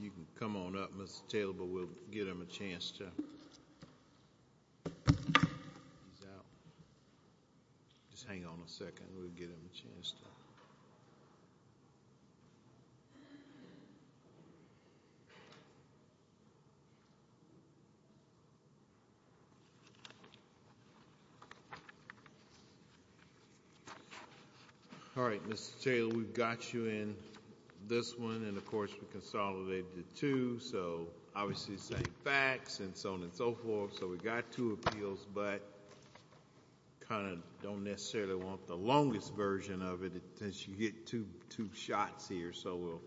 You can come on up, Mr. Taylor, but we'll give him a chance to... He's out. Just hang on a second, we'll give him a chance to... All right, Mr. Taylor, we've got you in this one, and of course we consolidated the two, so obviously the same facts, and so on and so forth, so we've got two appeals, but kind of don't necessarily want the longest version of it, since you get two shots here, so we'll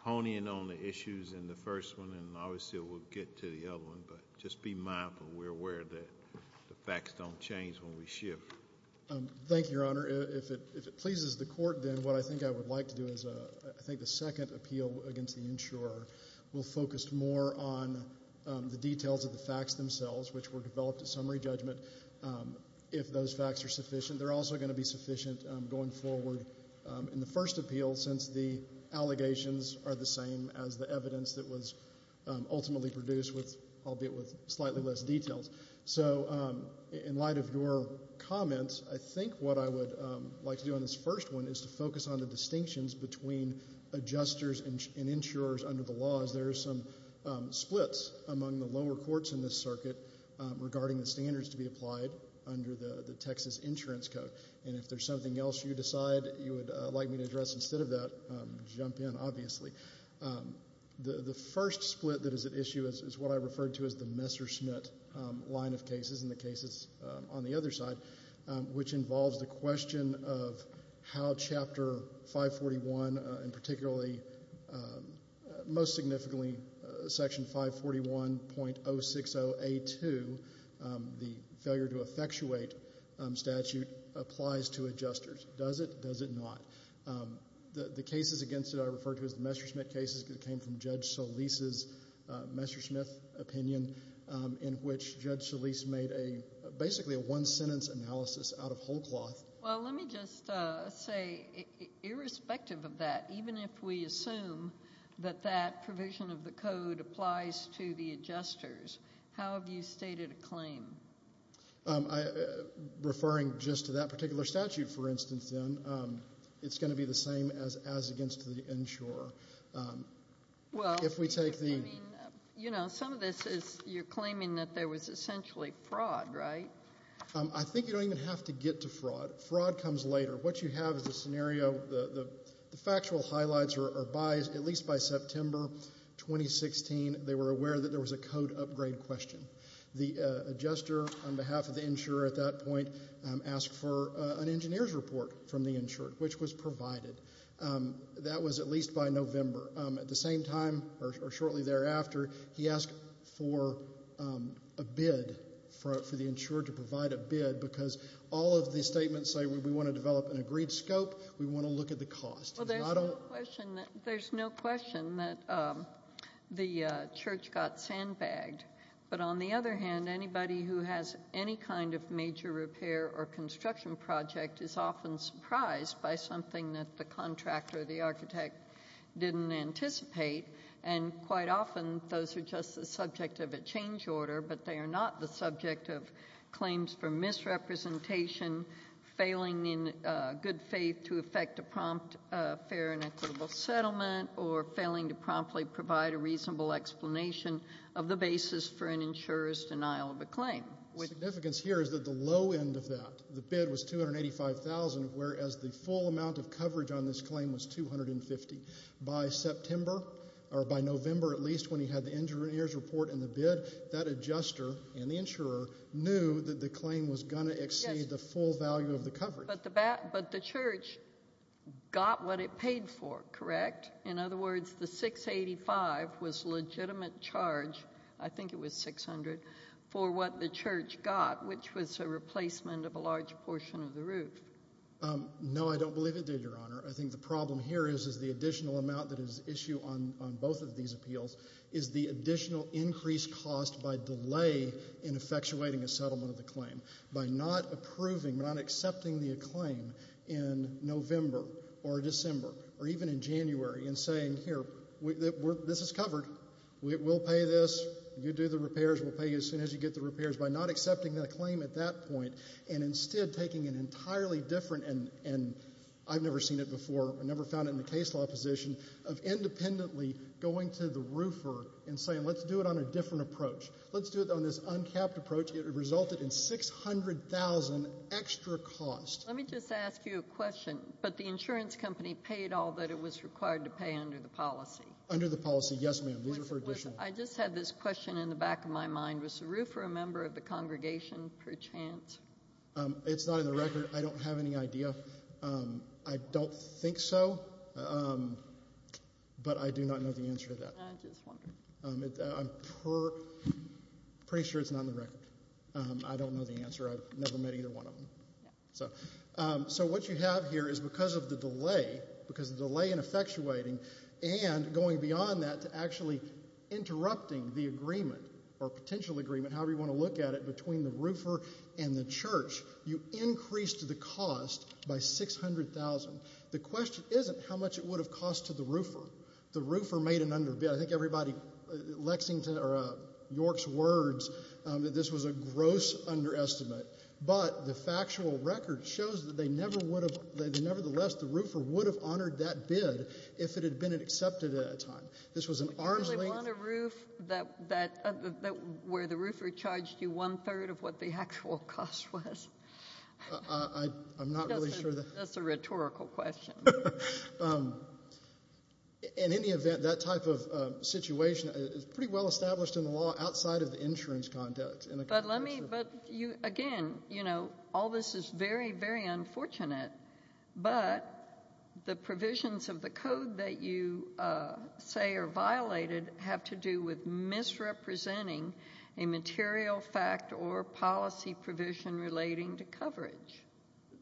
hone in on the issues in the first one, and obviously we'll get to the other one, but just be mindful, we're aware of that. The facts don't change when we shift. Thank you, Your Honor. If it pleases the court, then what I think I would like to do is, I think the second appeal against the insurer will focus more on the details of the facts themselves, which were developed at summary judgment. If those facts are sufficient, they're also going to be sufficient going forward in the first appeal, since the allegations are the same as the evidence that was ultimately produced, albeit with slightly less details. So in light of your comments, I think what I would like to do in this first one is to focus on the distinctions between adjusters and insurers under the laws. There are some splits among the lower courts in this circuit regarding the standards to be applied under the Texas Insurance Code, and if there's something else you decide you would like me to address instead of that, jump in, obviously. The first split that is at issue is what I referred to as the Messerschmitt line of cases, and the cases on the other side, which involves the question of how Chapter 541, and particularly, most significantly, Section 541.060A2, the failure to effectuate statute, applies to adjusters. Does it? Does it not? The cases against it that I referred to as the Messerschmitt cases came from Judge Solis's Messerschmitt opinion, in which Judge Solis made basically a one-sentence analysis out of whole cloth. Well, let me just say, irrespective of that, even if we assume that that provision of the code applies to the adjusters, how have you stated a claim? Referring just to that particular statute, for instance, then, it's going to be the same as against the insurer. Well, you're claiming that there was essentially fraud, right? I think you don't even have to get to fraud. Fraud comes later. What you have is a scenario. The factual highlights are at least by September 2016, they were aware that there was a code upgrade question. The adjuster, on behalf of the insurer at that point, asked for an engineer's report from the insurer, which was provided. That was at least by November. At the same time, or shortly thereafter, he asked for a bid, for the insurer to provide a bid, because all of the statements say we want to develop an agreed scope, we want to look at the cost. Well, there's no question that the church got sandbagged. But on the other hand, anybody who has any kind of major repair or construction project is often surprised by something that the contractor or the architect didn't anticipate. And quite often, those are just the subject of a change order, but they are not the subject of claims for misrepresentation, failing in good faith to effect a prompt fair and equitable settlement, or failing to promptly provide a reasonable explanation of the basis for an insurer's denial of a claim. The significance here is that the low end of that, the bid was $285,000, whereas the full amount of coverage on this claim was $250,000. By September, or by November at least, when he had the engineer's report and the bid, that adjuster and the insurer knew that the claim was going to exceed the full value of the coverage. But the church got what it paid for, correct? In other words, the $685,000 was a legitimate charge, I think it was $600,000, for what the church got, which was a replacement of a large portion of the roof. I think the problem here is the additional amount that is issued on both of these appeals is the additional increased cost by delay in effectuating a settlement of the claim. By not approving, not accepting the claim in November or December, or even in January, and saying, here, this is covered, we'll pay this, you do the repairs, we'll pay you as soon as you get the repairs. By not accepting the claim at that point, and instead taking an entirely different, and I've never seen it before, I've never found it in the case law position, of independently going to the roofer and saying, let's do it on a different approach. Let's do it on this uncapped approach. It resulted in $600,000 extra cost. Let me just ask you a question. But the insurance company paid all that it was required to pay under the policy. Under the policy, yes, ma'am. These are for additional. I just had this question in the back of my mind. Was Saru for a member of the congregation per chance? It's not in the record. I don't have any idea. I don't think so. But I do not know the answer to that. I'm pretty sure it's not in the record. I don't know the answer. I've never met either one of them. So what you have here is because of the delay, because of the delay in effectuating, and going beyond that to actually interrupting the agreement or potential agreement, however you want to look at it, between the roofer and the church, you increased the cost by $600,000. The question isn't how much it would have cost to the roofer. The roofer made an underbid. I think everybody, Lexington or York's words, that this was a gross underestimate. But the factual record shows that they never would have, nevertheless, the roofer would have honored that bid if it had been accepted at that time. This was an arm's length. You really want a roof where the roofer charged you one-third of what the actual cost was? I'm not really sure. That's a rhetorical question. In any event, that type of situation is pretty well established in the law outside of the insurance conduct. But let me, again, you know, all this is very, very unfortunate, but the provisions of the code that you say are violated have to do with misrepresenting a material fact or policy provision relating to coverage.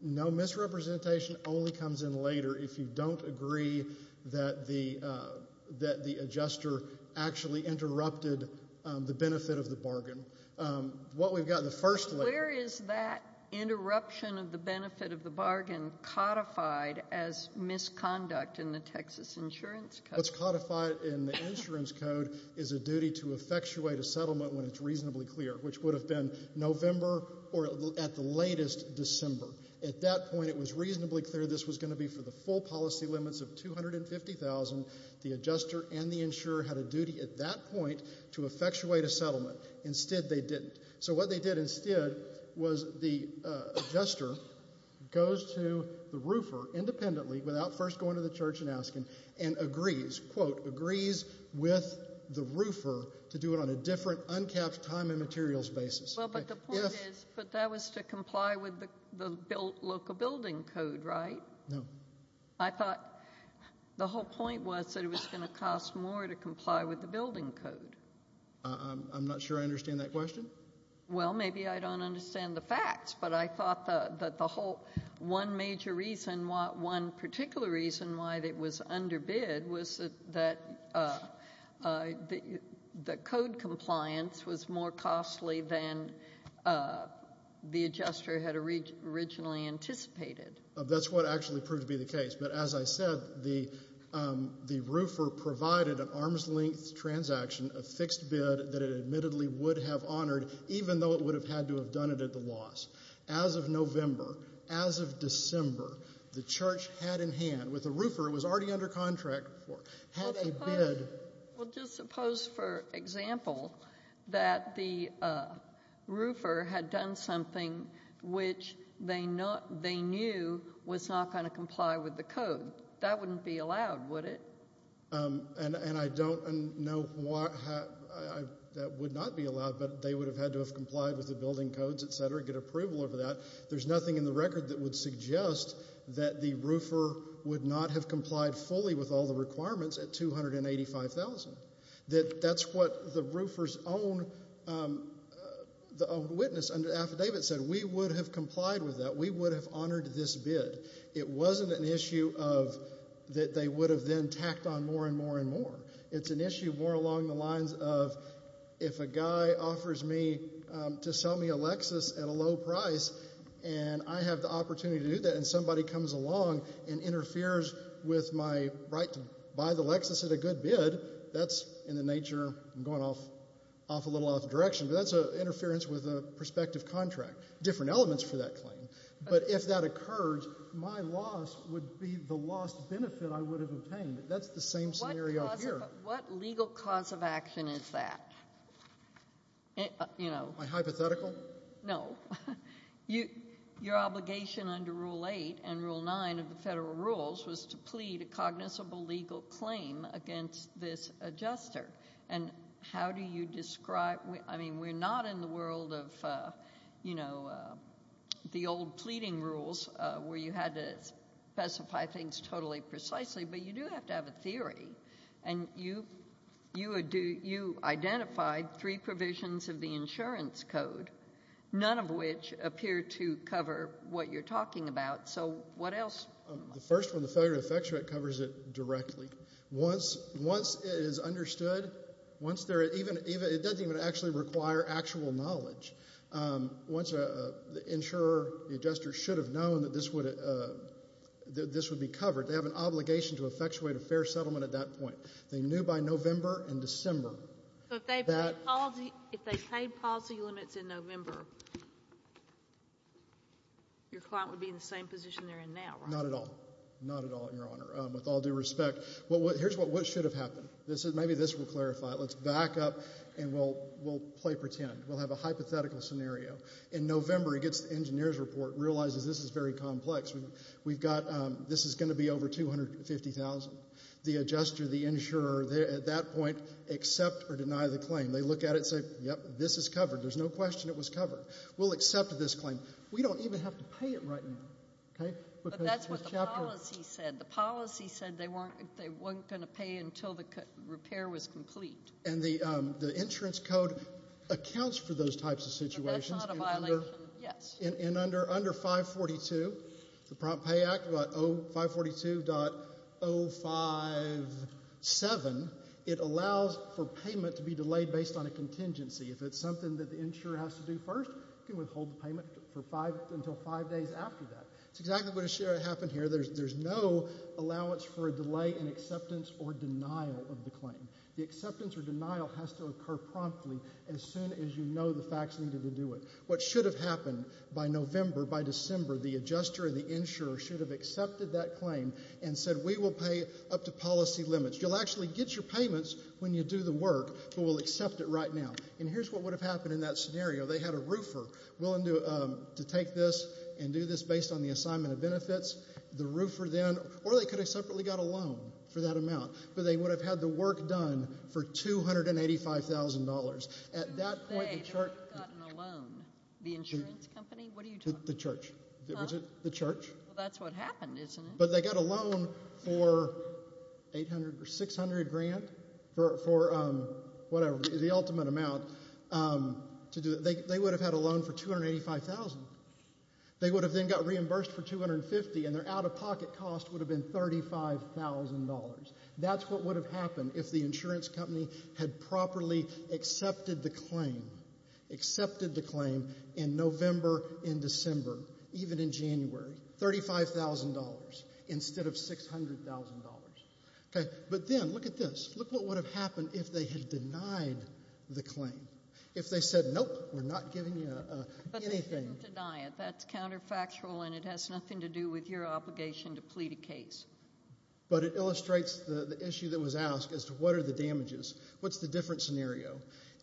No, misrepresentation only comes in later if you don't agree that the adjuster actually interrupted the benefit of the bargain. What we've got in the first layer. Where is that interruption of the benefit of the bargain codified as misconduct in the Texas Insurance Code? What's codified in the insurance code is a duty to effectuate a settlement when it's reasonably clear, which would have been November or at the latest December. At that point, it was reasonably clear this was going to be for the full policy limits of $250,000. The adjuster and the insurer had a duty at that point to effectuate a settlement. Instead, they didn't. So what they did instead was the adjuster goes to the roofer independently without first going to the church and asking and agrees, quote, agrees with the roofer to do it on a different uncapped time and materials basis. Well, but the point is that was to comply with the local building code, right? No. I thought the whole point was that it was going to cost more to comply with the building code. I'm not sure I understand that question. Well, maybe I don't understand the facts, but I thought that the whole one major reason, one particular reason why it was underbid was that the code compliance was more costly than the adjuster had originally anticipated. That's what actually proved to be the case. But as I said, the roofer provided an arm's-length transaction, a fixed bid that it admittedly would have honored, even though it would have had to have done it at the loss. As of November, as of December, the church had in hand, with the roofer it was already under contract, had a bid. Well, just suppose, for example, that the roofer had done something which they knew was not going to comply with the code. That wouldn't be allowed, would it? And I don't know why that would not be allowed, but they would have had to have complied with the building codes, et cetera, get approval over that. There's nothing in the record that would suggest that the roofer would not have complied fully with all the requirements at $285,000. That's what the roofer's own witness under the affidavit said. We would have complied with that. We would have honored this bid. It wasn't an issue of that they would have then tacked on more and more and more. It's an issue more along the lines of if a guy offers me to sell me a Lexus at a low price and I have the opportunity to do that and somebody comes along and interferes with my right to buy the Lexus at a good bid, that's in the nature of going off a little off direction, but that's interference with a prospective contract, different elements for that claim. But if that occurs, my loss would be the lost benefit I would have obtained. That's the same scenario here. What legal cause of action is that? My hypothetical? No. Your obligation under Rule 8 and Rule 9 of the federal rules was to plead a cognizable legal claim against this adjuster. And how do you describe we're not in the world of the old pleading rules where you had to specify things totally precisely, but you do have to have a theory, and you identified three provisions of the insurance code, none of which appear to cover what you're talking about. So what else? The first one, the failure to effectuate, covers it directly. Once it is understood, it doesn't even actually require actual knowledge. Once the insurer, the adjuster, should have known that this would be covered, they have an obligation to effectuate a fair settlement at that point. They knew by November and December. So if they paid policy limits in November, your client would be in the same position they're in now, right? Not at all. Not at all, Your Honor, with all due respect. Here's what should have happened. Maybe this will clarify it. Let's back up, and we'll play pretend. We'll have a hypothetical scenario. In November, he gets the engineer's report, realizes this is very complex. We've got this is going to be over $250,000. The adjuster, the insurer, at that point, accept or deny the claim. They look at it and say, yep, this is covered. There's no question it was covered. We'll accept this claim. We don't even have to pay it right now, okay? But that's what the policy said. The policy said they weren't going to pay until the repair was complete. And the insurance code accounts for those types of situations. But that's not a violation, yes. And under 542, the Prompt Pay Act, 542.057, it allows for payment to be delayed based on a contingency. If it's something that the insurer has to do first, you can withhold the payment until five days after that. That's exactly what happened here. There's no allowance for a delay in acceptance or denial of the claim. The acceptance or denial has to occur promptly as soon as you know the facts needed to do it. What should have happened by November, by December, the adjuster and the insurer should have accepted that claim and said we will pay up to policy limits. You'll actually get your payments when you do the work, but we'll accept it right now. And here's what would have happened in that scenario. They had a roofer willing to take this and do this based on the assignment of benefits. The roofer then, or they could have separately got a loan for that amount. But they would have had the work done for $285,000. Who say they would have gotten a loan? The insurance company? What are you talking about? The church. Huh? The church. Well, that's what happened, isn't it? But they got a loan for 800 or 600 grand for whatever, the ultimate amount to do it. They would have had a loan for $285,000. They would have then got reimbursed for $250,000, and their out-of-pocket cost would have been $35,000. That's what would have happened if the insurance company had properly accepted the claim. Accepted the claim in November and December, even in January. $35,000 instead of $600,000. But then, look at this. Look what would have happened if they had denied the claim. If they said, nope, we're not giving you anything. But they didn't deny it. That's counterfactual, and it has nothing to do with your obligation to plead a case. But it illustrates the issue that was asked as to what are the damages. What's the different scenario?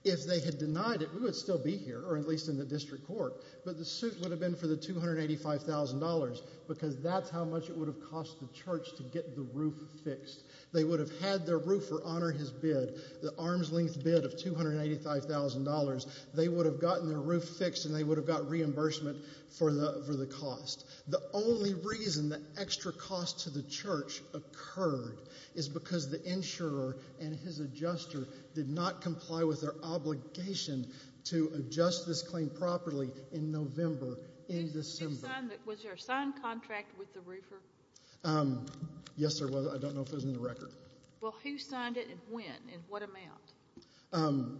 If they had denied it, we would still be here, or at least in the district court. But the suit would have been for the $285,000 because that's how much it would have cost the church to get the roof fixed. They would have had their roofer honor his bid, the arm's-length bid of $285,000. They would have gotten their roof fixed, and they would have got reimbursement for the cost. The only reason the extra cost to the church occurred is because the insurer and his adjuster did not comply with their obligation to adjust this claim properly in November, in December. Was there a signed contract with the roofer? Yes, there was. I don't know if it was in the record. Well, who signed it and when, and what amount?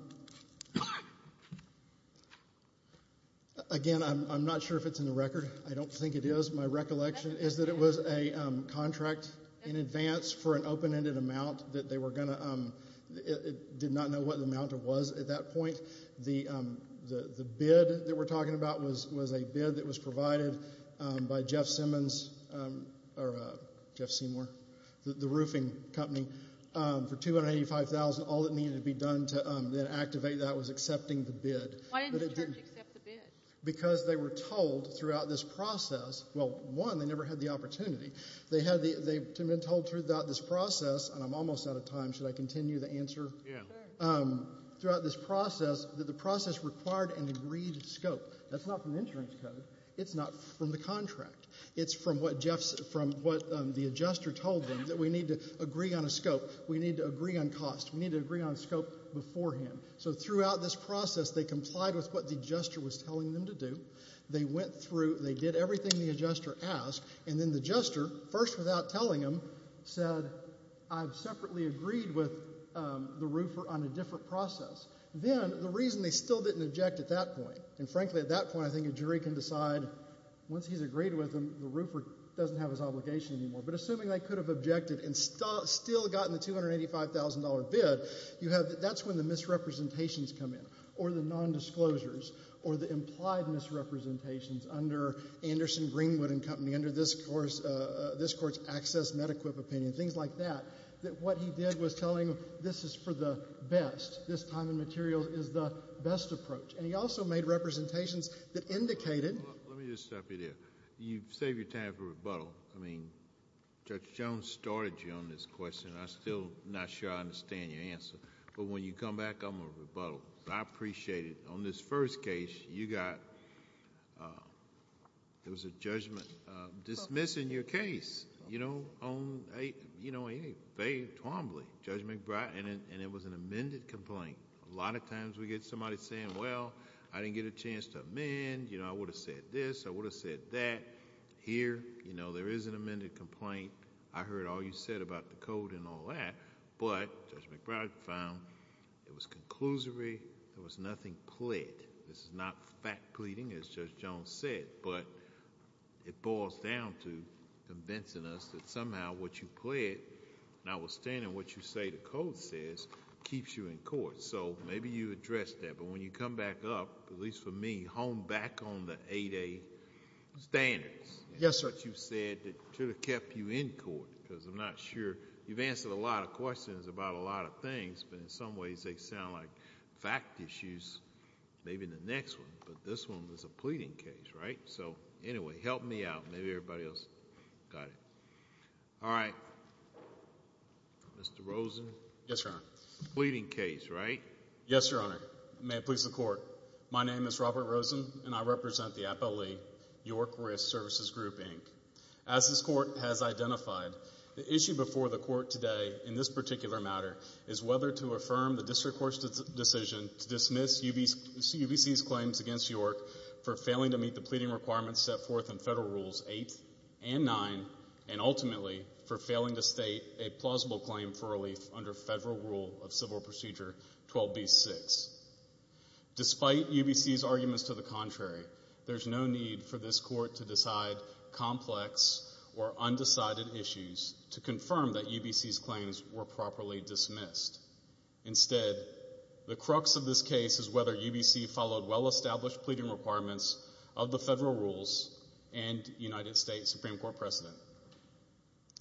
Again, I'm not sure if it's in the record. I don't think it is. My recollection is that it was a contract in advance for an open-ended amount that they were going to, did not know what the amount was at that point. The bid that we're talking about was a bid that was provided by Jeff Simmons, or Jeff Seymour, the roofing company, for $285,000. All that needed to be done to then activate that was accepting the bid. Why didn't the church accept the bid? Because they were told throughout this process, well, one, they never had the opportunity. They had been told throughout this process, and I'm almost out of time. Should I continue the answer? Yeah. Throughout this process that the process required an agreed scope. That's not from the insurance code. It's not from the contract. It's from what the adjuster told them, that we need to agree on a scope. We need to agree on cost. We need to agree on scope beforehand. So throughout this process they complied with what the adjuster was telling them to do. They went through. They did everything the adjuster asked. And then the adjuster, first without telling them, said, I've separately agreed with the roofer on a different process. Then the reason they still didn't object at that point, and frankly at that point I think a jury can decide, once he's agreed with them, the roofer doesn't have his obligation anymore. But assuming they could have objected and still gotten the $285,000 bid, that's when the misrepresentations come in, or the nondisclosures, or the implied misrepresentations under Anderson, Greenwood & Company, under this court's access medequip opinion, things like that, that what he did was telling them this is for the best. This time and material is the best approach. And he also made representations that indicated. Let me just stop you there. You've saved your time for rebuttal. I mean, Judge Jones started you on this question. I'm still not sure I understand your answer. But when you come back, I'm going to rebuttal. I appreciate it. On this first case, you got... there was a judgment dismissing your case. You know, on a vague, twombly, Judge McBride, and it was an amended complaint. A lot of times we get somebody saying, well, I didn't get a chance to amend. I would have said this. I would have said that. Here, there is an amended complaint. I heard all you said about the code and all that. But Judge McBride found it was conclusory. There was nothing pled. This is not fact pleading, as Judge Jones said. But it boils down to convincing us that somehow what you pled, notwithstanding what you say the code says, keeps you in court. So maybe you addressed that. But when you come back up, at least for me, hone back on the 8A standards... Yes, sir.... that you said that should have kept you in court. Because I'm not sure... You've answered a lot of questions about a lot of things, but in some ways they sound like fact issues, maybe in the next one. But this one was a pleading case, right? So, anyway, help me out. Maybe everybody else got it. All right. Mr. Rosen? Yes, Your Honor. Pleading case, right? Yes, Your Honor. May it please the Court. My name is Robert Rosen, and I represent the appellee, York Risk Services Group, Inc. As this Court has identified, the issue before the Court today in this particular matter is whether to affirm the District Court's decision to dismiss UBC's claims against York for failing to meet the pleading requirements set forth in Federal Rules 8 and 9, and ultimately for failing to state a plausible claim for relief under Federal Rule of Civil Procedure 12b-6. Despite UBC's arguments to the contrary, there's no need for this Court to decide complex or undecided issues to confirm that UBC's claims were properly dismissed. Instead, the crux of this case is whether UBC followed well-established pleading requirements of the Federal Rules and United States Supreme Court precedent.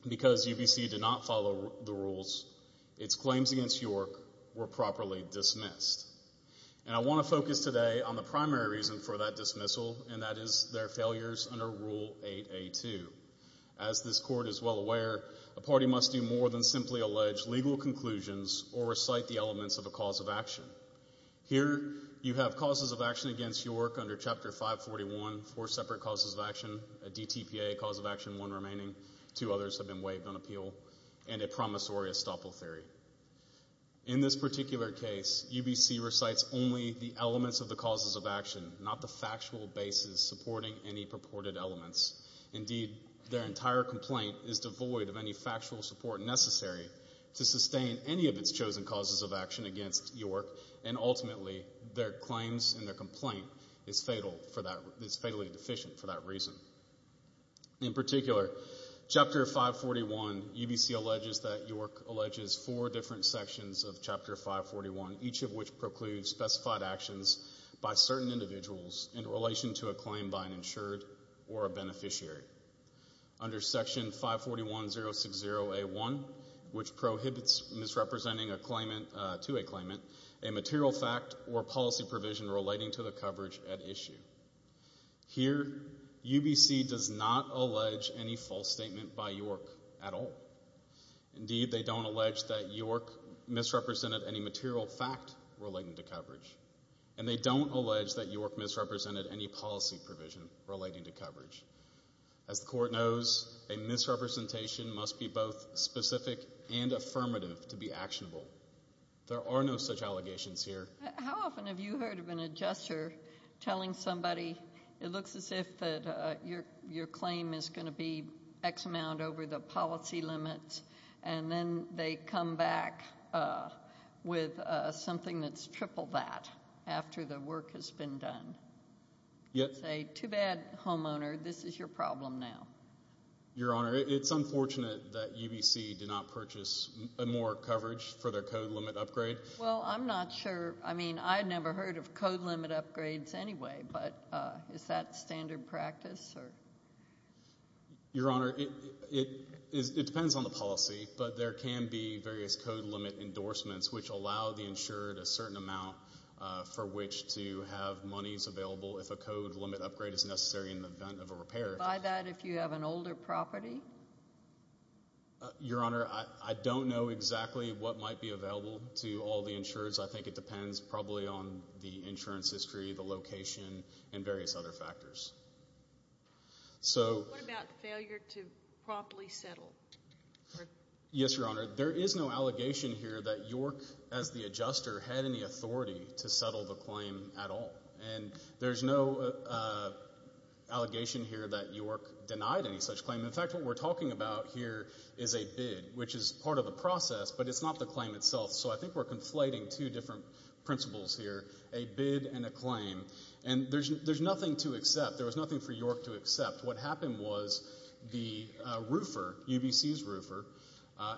Because UBC did not follow the rules, its claims against York were properly dismissed. And I want to focus today on the primary reason for that dismissal, and that is their failures under Rule 8a-2. As this Court is well aware, a party must do more than simply allege legal conclusions or recite the elements of a cause of action. Here, you have causes of action against York under Chapter 541, four separate causes of action, a DTPA cause of action, one remaining, two others have been waived on appeal, and a promissory estoppel theory. In this particular case, UBC recites only the elements of the causes of action, not the factual basis supporting any purported elements. Indeed, their entire complaint is devoid of any factual support necessary to sustain any of its chosen causes of action against York, and ultimately, their claims and their complaint is fatally deficient for that reason. In particular, Chapter 541, UBC alleges that York alleges four different sections of Chapter 541, each of which precludes specified actions by certain individuals in relation to a claim by an insured or a beneficiary. Under Section 541-060-A1, which prohibits misrepresenting a claimant to a claimant, a material fact or policy provision relating to the coverage at issue. Here, UBC does not allege any false statement by York at all. Indeed, they don't allege that York misrepresented any material fact relating to coverage, and they don't allege that York misrepresented any policy provision relating to coverage. As the Court knows, a misrepresentation must be both specific and affirmative to be actionable. There are no such allegations here. How often have you heard of an adjuster telling somebody, it looks as if your claim is going to be X amount over the policy limits, and then they come back with something that's triple that after the work has been done? Say, too bad, homeowner, this is your problem now. Your Honor, it's unfortunate that UBC did not purchase more coverage for their code limit upgrade. Well, I'm not sure. I mean, I'd never heard of code limit upgrades anyway, but is that standard practice? Yes, sir. Your Honor, it depends on the policy, but there can be various code limit endorsements which allow the insured a certain amount for which to have monies available if a code limit upgrade is necessary in the event of a repair. Buy that if you have an older property? Your Honor, I don't know exactly what might be available to all the insurers. I think it depends probably on the insurance history, the location, and various other factors. What about failure to properly settle? Yes, Your Honor. There is no allegation here that York, as the adjuster, had any authority to settle the claim at all, and there's no allegation here that York denied any such claim. In fact, what we're talking about here is a bid, which is part of the process, but it's not the claim itself, so I think we're conflating two different principles here, a bid and a claim, and there's nothing to accept. There was nothing for York to accept. What happened was the roofer, UBC's roofer,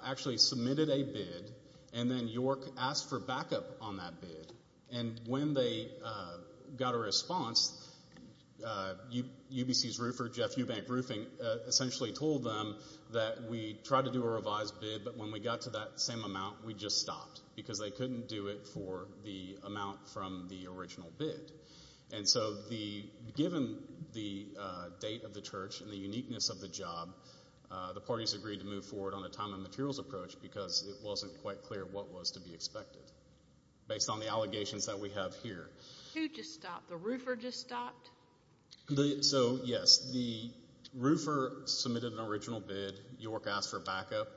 actually submitted a bid, and then York asked for backup on that bid, and when they got a response, UBC's roofer, Jeff Eubank-Roofing, essentially told them that we tried to do a revised bid, but when we got to that same amount, we just stopped because they couldn't do it for the amount from the original bid. And so given the date of the church and the uniqueness of the job, the parties agreed to move forward on a time and materials approach because it wasn't quite clear what was to be expected based on the allegations that we have here. Who just stopped? The roofer just stopped? So, yes, the roofer submitted an original bid, York asked for backup,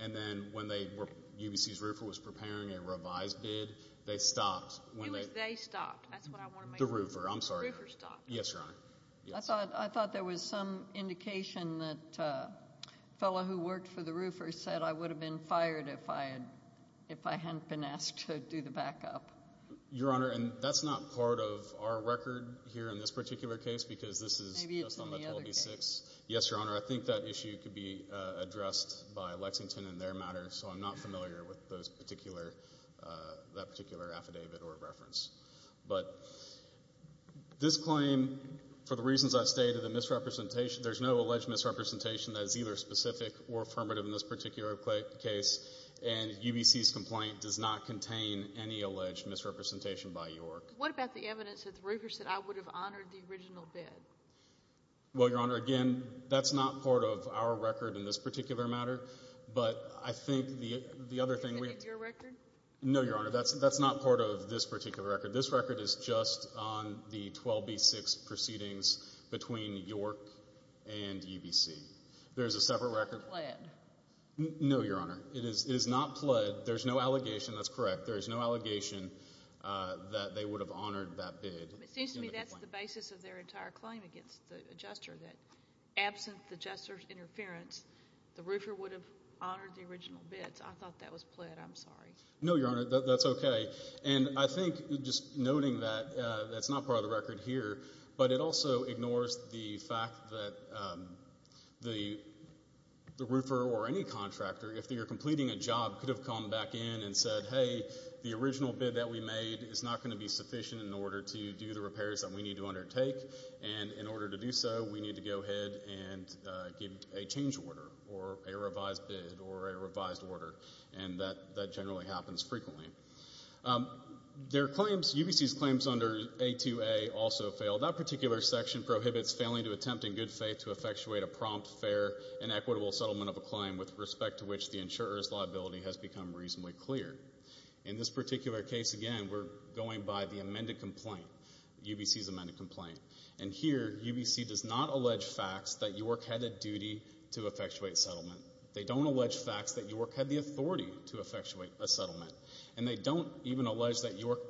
and then when UBC's roofer was preparing a revised bid, they stopped. It was they stopped, that's what I want to make sure. The roofer, I'm sorry. The roofer stopped. Yes, Your Honor. I thought there was some indication that the fellow who worked for the roofer said I would have been fired if I hadn't been asked to do the backup. Your Honor, and that's not part of our record here in this particular case because this is just on the 12B-6. Maybe it's in the other case. Yes, Your Honor. I think that issue could be addressed by Lexington in their matter, so I'm not familiar with that particular affidavit or reference. But this claim, for the reasons I stated, there's no alleged misrepresentation that is either specific or affirmative in this particular case, and UBC's complaint does not contain any alleged misrepresentation by York. What about the evidence that the roofer said I would have honored the original bid? Well, Your Honor, again, that's not part of our record in this particular matter, but I think the other thing we have. Is it in your record? No, Your Honor. That's not part of this particular record. This record is just on the 12B-6 proceedings between York and UBC. There's a separate record. It's not pled. No, Your Honor. It is not pled. There's no allegation. That's correct. There is no allegation that they would have honored that bid. It seems to me that's the basis of their entire claim against the adjuster, that absent the adjuster's interference, the roofer would have honored the original bid. So I thought that was pled. I'm sorry. No, Your Honor, that's okay. And I think just noting that that's not part of the record here, but it also ignores the fact that the roofer or any contractor, if they were completing a job, could have come back in and said, hey, the original bid that we made is not going to be sufficient in order to do the repairs that we need to undertake. And in order to do so, we need to go ahead and give a change order or a revised bid or a revised order. And that generally happens frequently. UBC's claims under A2A also fail. That particular section prohibits failing to attempt in good faith to effectuate a prompt, fair, and equitable settlement of a claim with respect to which the insurer's liability has become reasonably clear. In this particular case, again, we're going by the amended complaint, UBC's amended complaint. And here UBC does not allege facts that York had a duty to effectuate settlement. They don't allege facts that York had the authority to effectuate a settlement. And they don't even allege that York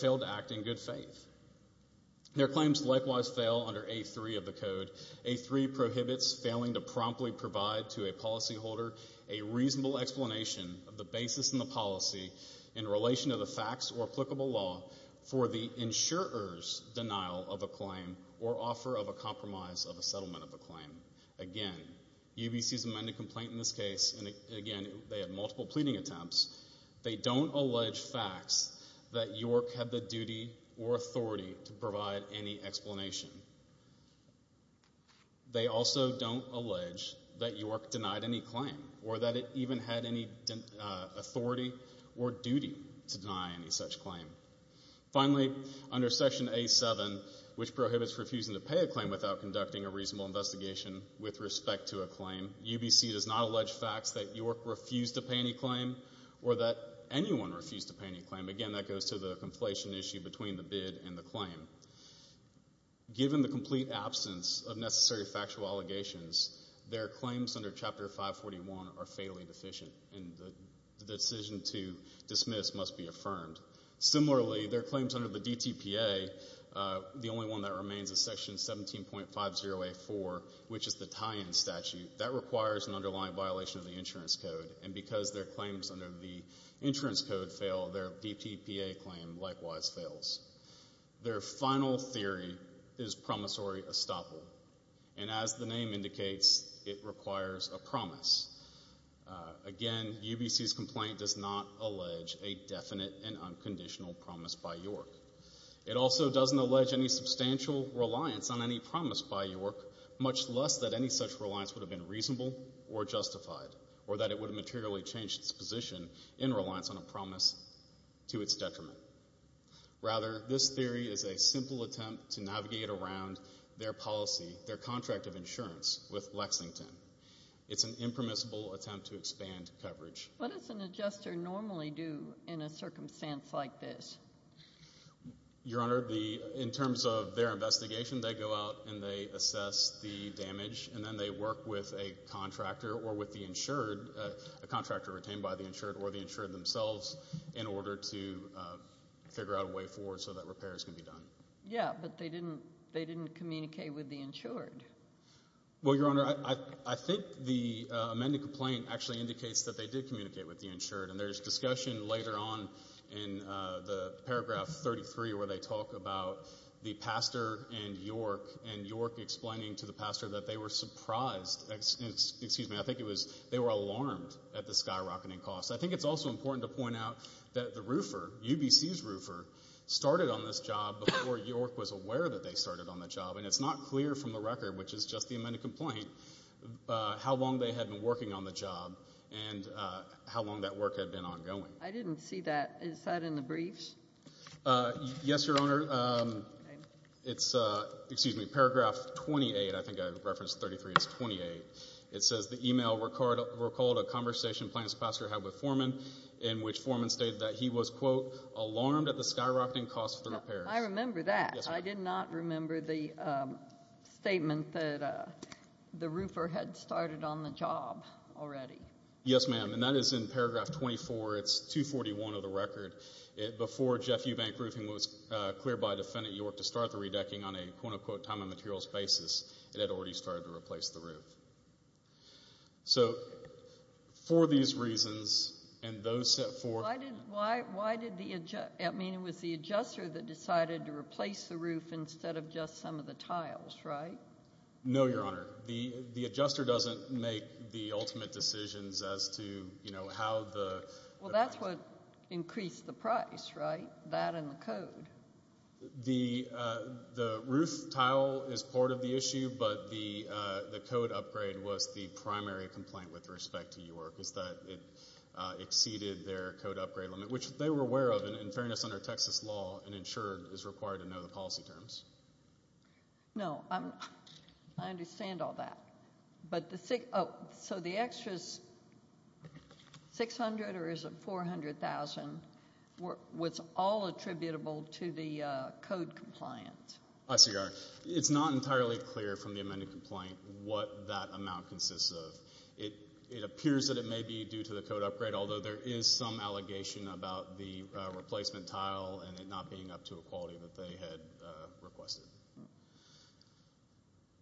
failed to act in good faith. Their claims likewise fail under A3 of the code. A3 prohibits failing to promptly provide to a policyholder a reasonable explanation of the basis in the policy in relation to the facts or applicable law for the insurer's denial of a claim or offer of a compromise of a settlement of a claim. Again, UBC's amended complaint in this case, and again, they have multiple pleading attempts, they don't allege facts that York had the duty or authority to provide any explanation. They also don't allege that York denied any claim or that it even had any authority or duty to deny any such claim. Finally, under Section A7, which prohibits refusing to pay a claim without conducting a reasonable investigation with respect to a claim, UBC does not allege facts that York refused to pay any claim or that anyone refused to pay any claim. Given the complete absence of necessary factual allegations, their claims under Chapter 541 are fatally deficient, and the decision to dismiss must be affirmed. Similarly, their claims under the DTPA, the only one that remains is Section 17.50A4, which is the tie-in statute. That requires an underlying violation of the insurance code, and because their claims under the insurance code fail, their DTPA claim likewise fails. Their final theory is promissory estoppel, and as the name indicates, it requires a promise. Again, UBC's complaint does not allege a definite and unconditional promise by York. It also doesn't allege any substantial reliance on any promise by York, much less that any such reliance would have been reasonable or justified or that it would have materially changed its position in reliance on a promise to its detriment. Rather, this theory is a simple attempt to navigate around their policy, their contract of insurance, with Lexington. It's an impermissible attempt to expand coverage. What does an adjuster normally do in a circumstance like this? Your Honor, in terms of their investigation, they go out and they assess the damage, and then they work with a contractor or with the insured, a contractor retained by the insured or the insured themselves, in order to figure out a way forward so that repair is going to be done. Yeah, but they didn't communicate with the insured. Well, Your Honor, I think the amended complaint actually indicates that they did communicate with the insured, and there's discussion later on in the paragraph 33 where they talk about the pastor and York, and York explaining to the pastor that they were surprised. Excuse me, I think it was they were alarmed at the skyrocketing cost. I think it's also important to point out that the roofer, UBC's roofer, started on this job before York was aware that they started on the job, and it's not clear from the record, which is just the amended complaint, how long they had been working on the job and how long that work had been ongoing. I didn't see that. Is that in the briefs? Yes, Your Honor. It's, excuse me, paragraph 28. I think I referenced 33. It's 28. It says, I remember that. I did not remember the statement that the roofer had started on the job already. Yes, ma'am, and that is in paragraph 24. It's 241 of the record. Before Jeff Ubank roofing was cleared by defendant York to start the redecking on a quote-unquote time and materials basis, it had already started to replace the roof. So for these reasons, and those set forth— Why did the—I mean, it was the adjuster that decided to replace the roof instead of just some of the tiles, right? No, Your Honor. The adjuster doesn't make the ultimate decisions as to, you know, how the— Well, that's what increased the price, right, that and the code? The roof tile is part of the issue, but the code upgrade was the primary complaint with respect to York, is that it exceeded their code upgrade limit, which they were aware of in fairness under Texas law and ensured is required to know the policy terms. No, I understand all that, but the— $600,000 or is it $400,000? What's all attributable to the code compliance? I see, Your Honor. It's not entirely clear from the amended complaint what that amount consists of. It appears that it may be due to the code upgrade, although there is some allegation about the replacement tile and it not being up to a quality that they had requested.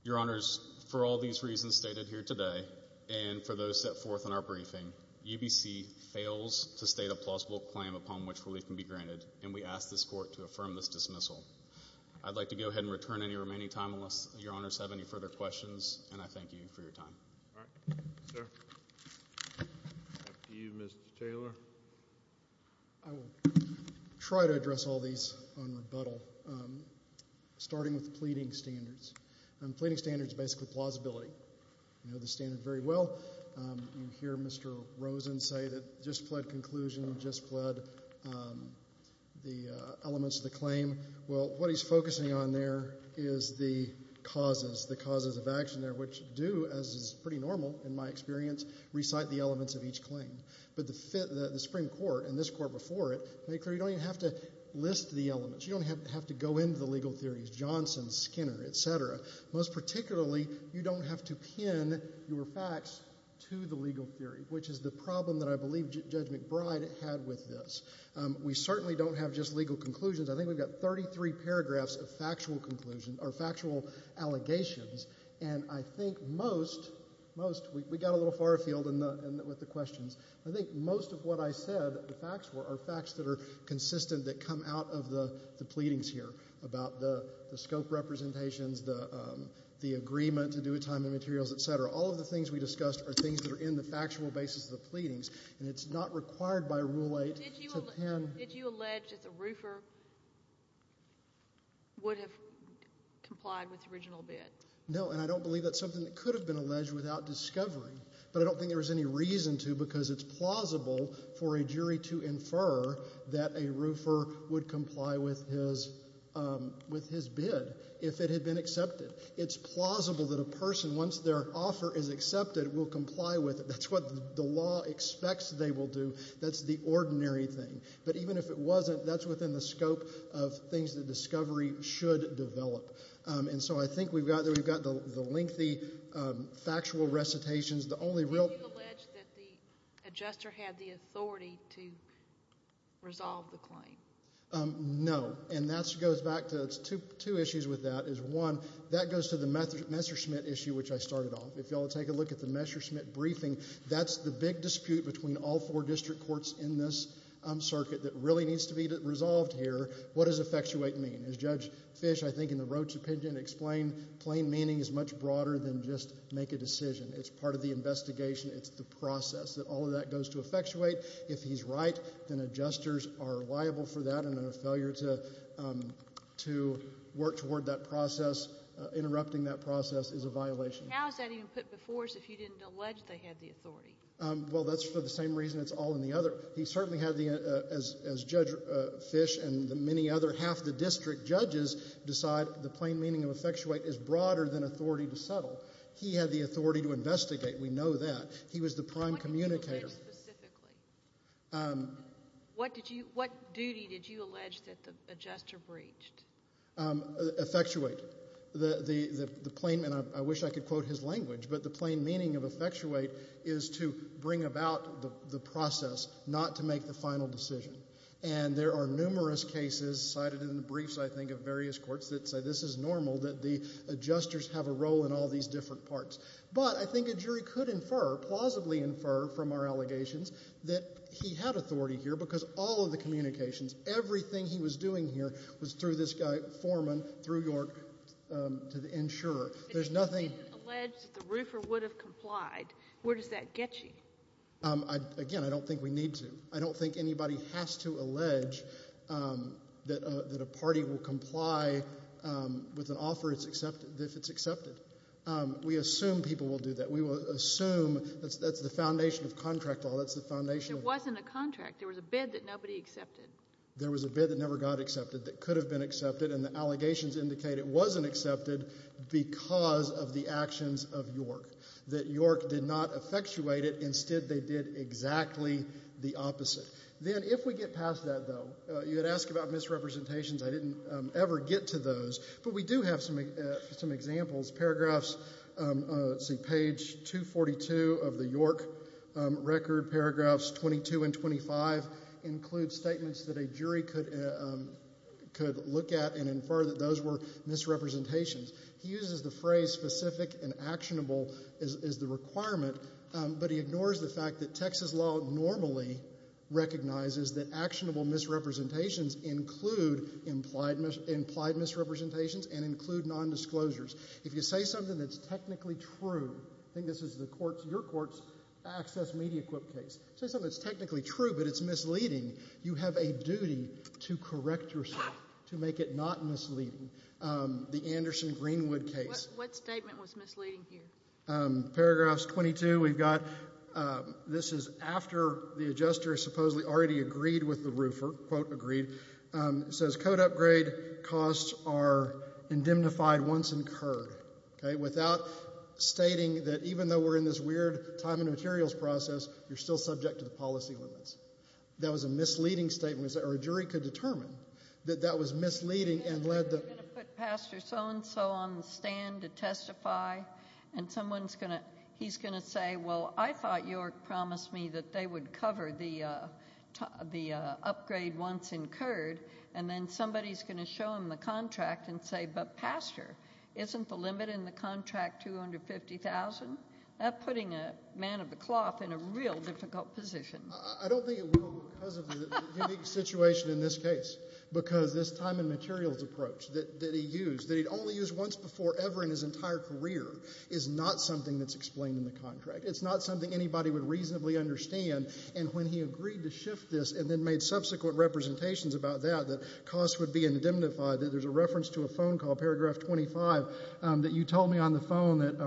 Your Honors, for all these reasons stated here today and for those set forth in our briefing, UBC fails to state a plausible claim upon which relief can be granted, and we ask this Court to affirm this dismissal. I'd like to go ahead and return any remaining time unless Your Honors have any further questions, and I thank you for your time. All right, sir. After you, Mr. Taylor. I will try to address all these on rebuttal, starting with pleading standards. Pleading standards are basically plausibility. You know the standard very well. You hear Mr. Rosen say that just pled conclusion, just pled the elements of the claim. Well, what he's focusing on there is the causes, the causes of action there, which do, as is pretty normal in my experience, recite the elements of each claim. But the Supreme Court and this Court before it made clear you don't even have to list the elements. You don't have to go into the legal theories, Johnson, Skinner, et cetera. Most particularly, you don't have to pin your facts to the legal theory, which is the problem that I believe Judge McBride had with this. We certainly don't have just legal conclusions. I think we've got 33 paragraphs of factual conclusions or factual allegations, and I think most, most, we got a little far afield with the questions. I think most of what I said, the facts were, are facts that are consistent that come out of the pleadings here about the scope representations, the agreement to do with time and materials, et cetera. All of the things we discussed are things that are in the factual basis of the pleadings, and it's not required by Rule 8 to pin. Did you allege that the roofer would have complied with the original bid? No, and I don't believe that's something that could have been alleged without discovering, but I don't think there was any reason to because it's plausible for a jury to infer that a roofer would comply with his bid if it had been accepted. It's plausible that a person, once their offer is accepted, will comply with it. That's what the law expects they will do. That's the ordinary thing. But even if it wasn't, that's within the scope of things that discovery should develop. And so I think we've got the lengthy factual recitations. Did you allege that the adjuster had the authority to resolve the claim? No, and that goes back to two issues with that. One, that goes to the Messerschmitt issue, which I started off. If you all take a look at the Messerschmitt briefing, that's the big dispute between all four district courts in this circuit that really needs to be resolved here. What does effectuate mean? As Judge Fish, I think, in the Roach opinion explained, plain meaning is much broader than just make a decision. It's part of the investigation. It's the process that all of that goes to effectuate. If he's right, then adjusters are liable for that, and a failure to work toward that process, interrupting that process, is a violation. How is that even put before us if you didn't allege they had the authority? Well, that's for the same reason it's all in the other. He certainly had the, as Judge Fish and the many other, half the district judges, decide the plain meaning of effectuate is broader than authority to settle. He had the authority to investigate. We know that. He was the prime communicator. What did you allege specifically? What duty did you allege that the adjuster breached? Effectuate. I wish I could quote his language, but the plain meaning of effectuate is to bring about the process, not to make the final decision. There are numerous cases cited in the briefs, I think, of various courts that say this is normal, that the adjusters have a role in all these different parts. But I think a jury could infer, plausibly infer from our allegations, that he had authority here because all of the communications, everything he was doing here was through this foreman, through York, to the insurer. If you didn't allege that the roofer would have complied, where does that get you? Again, I don't think we need to. I don't think anybody has to allege that a party will comply with an offer if it's accepted. We assume people will do that. We will assume that's the foundation of contract law. That's the foundation. There wasn't a contract. There was a bid that nobody accepted. There was a bid that never got accepted that could have been accepted, and the allegations indicate it wasn't accepted because of the actions of York, that York did not effectuate it. Instead, they did exactly the opposite. Then, if we get past that, though, you had asked about misrepresentations. I didn't ever get to those, but we do have some examples. Paragraphs, let's see, page 242 of the York record, paragraphs 22 and 25, include statements that a jury could look at and infer that those were misrepresentations. He uses the phrase specific and actionable as the requirement, but he ignores the fact that Texas law normally recognizes that actionable misrepresentations include implied misrepresentations and include nondisclosures. If you say something that's technically true, I think this is your court's access media case, say something that's technically true but it's misleading, you have a duty to correct yourself, to make it not misleading. The Anderson-Greenwood case. What statement was misleading here? Paragraphs 22, we've got this is after the adjuster supposedly already agreed with the roofer, quote, agreed. It says code upgrade costs are indemnified once incurred. Okay, without stating that even though we're in this weird time and materials process, you're still subject to the policy limits. That was a misleading statement, or a jury could determine that that was misleading and led to He's going to put Pastor so-and-so on the stand to testify, and he's going to say, well, I thought York promised me that they would cover the upgrade once incurred, and then somebody's going to show him the contract and say, but Pastor, isn't the limit in the contract $250,000? That's putting a man of the cloth in a real difficult position. I don't think it will because of the unique situation in this case because this time and materials approach that he used, that he'd only used once before ever in his entire career, is not something that's explained in the contract. It's not something anybody would reasonably understand, and when he agreed to shift this and then made subsequent representations about that, that costs would be indemnified, that there's a reference to a phone call, paragraph 25, that you told me on the phone that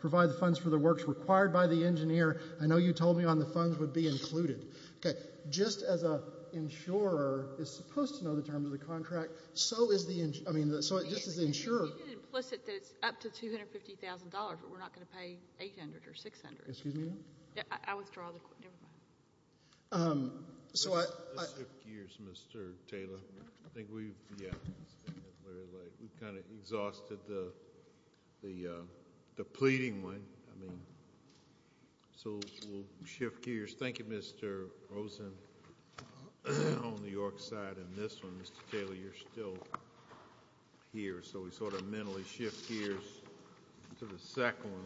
provide the funds for the works required by the engineer. I know you told me on the phone it would be included. Okay. Just as an insurer is supposed to know the terms of the contract, so is the ‑‑I mean, just as the insurer. You did implicit that it's up to $250,000, but we're not going to pay $800,000 or $600,000. Excuse me? I withdraw the ‑‑never mind. So I ‑‑ Let's shift gears, Mr. Taylor. I think we've, yeah, we've kind of exhausted the pleading one. I mean, so we'll shift gears. Thank you, Mr. Rosen on the York side. And this one, Mr. Taylor, you're still here. So we sort of mentally shift gears to the second one.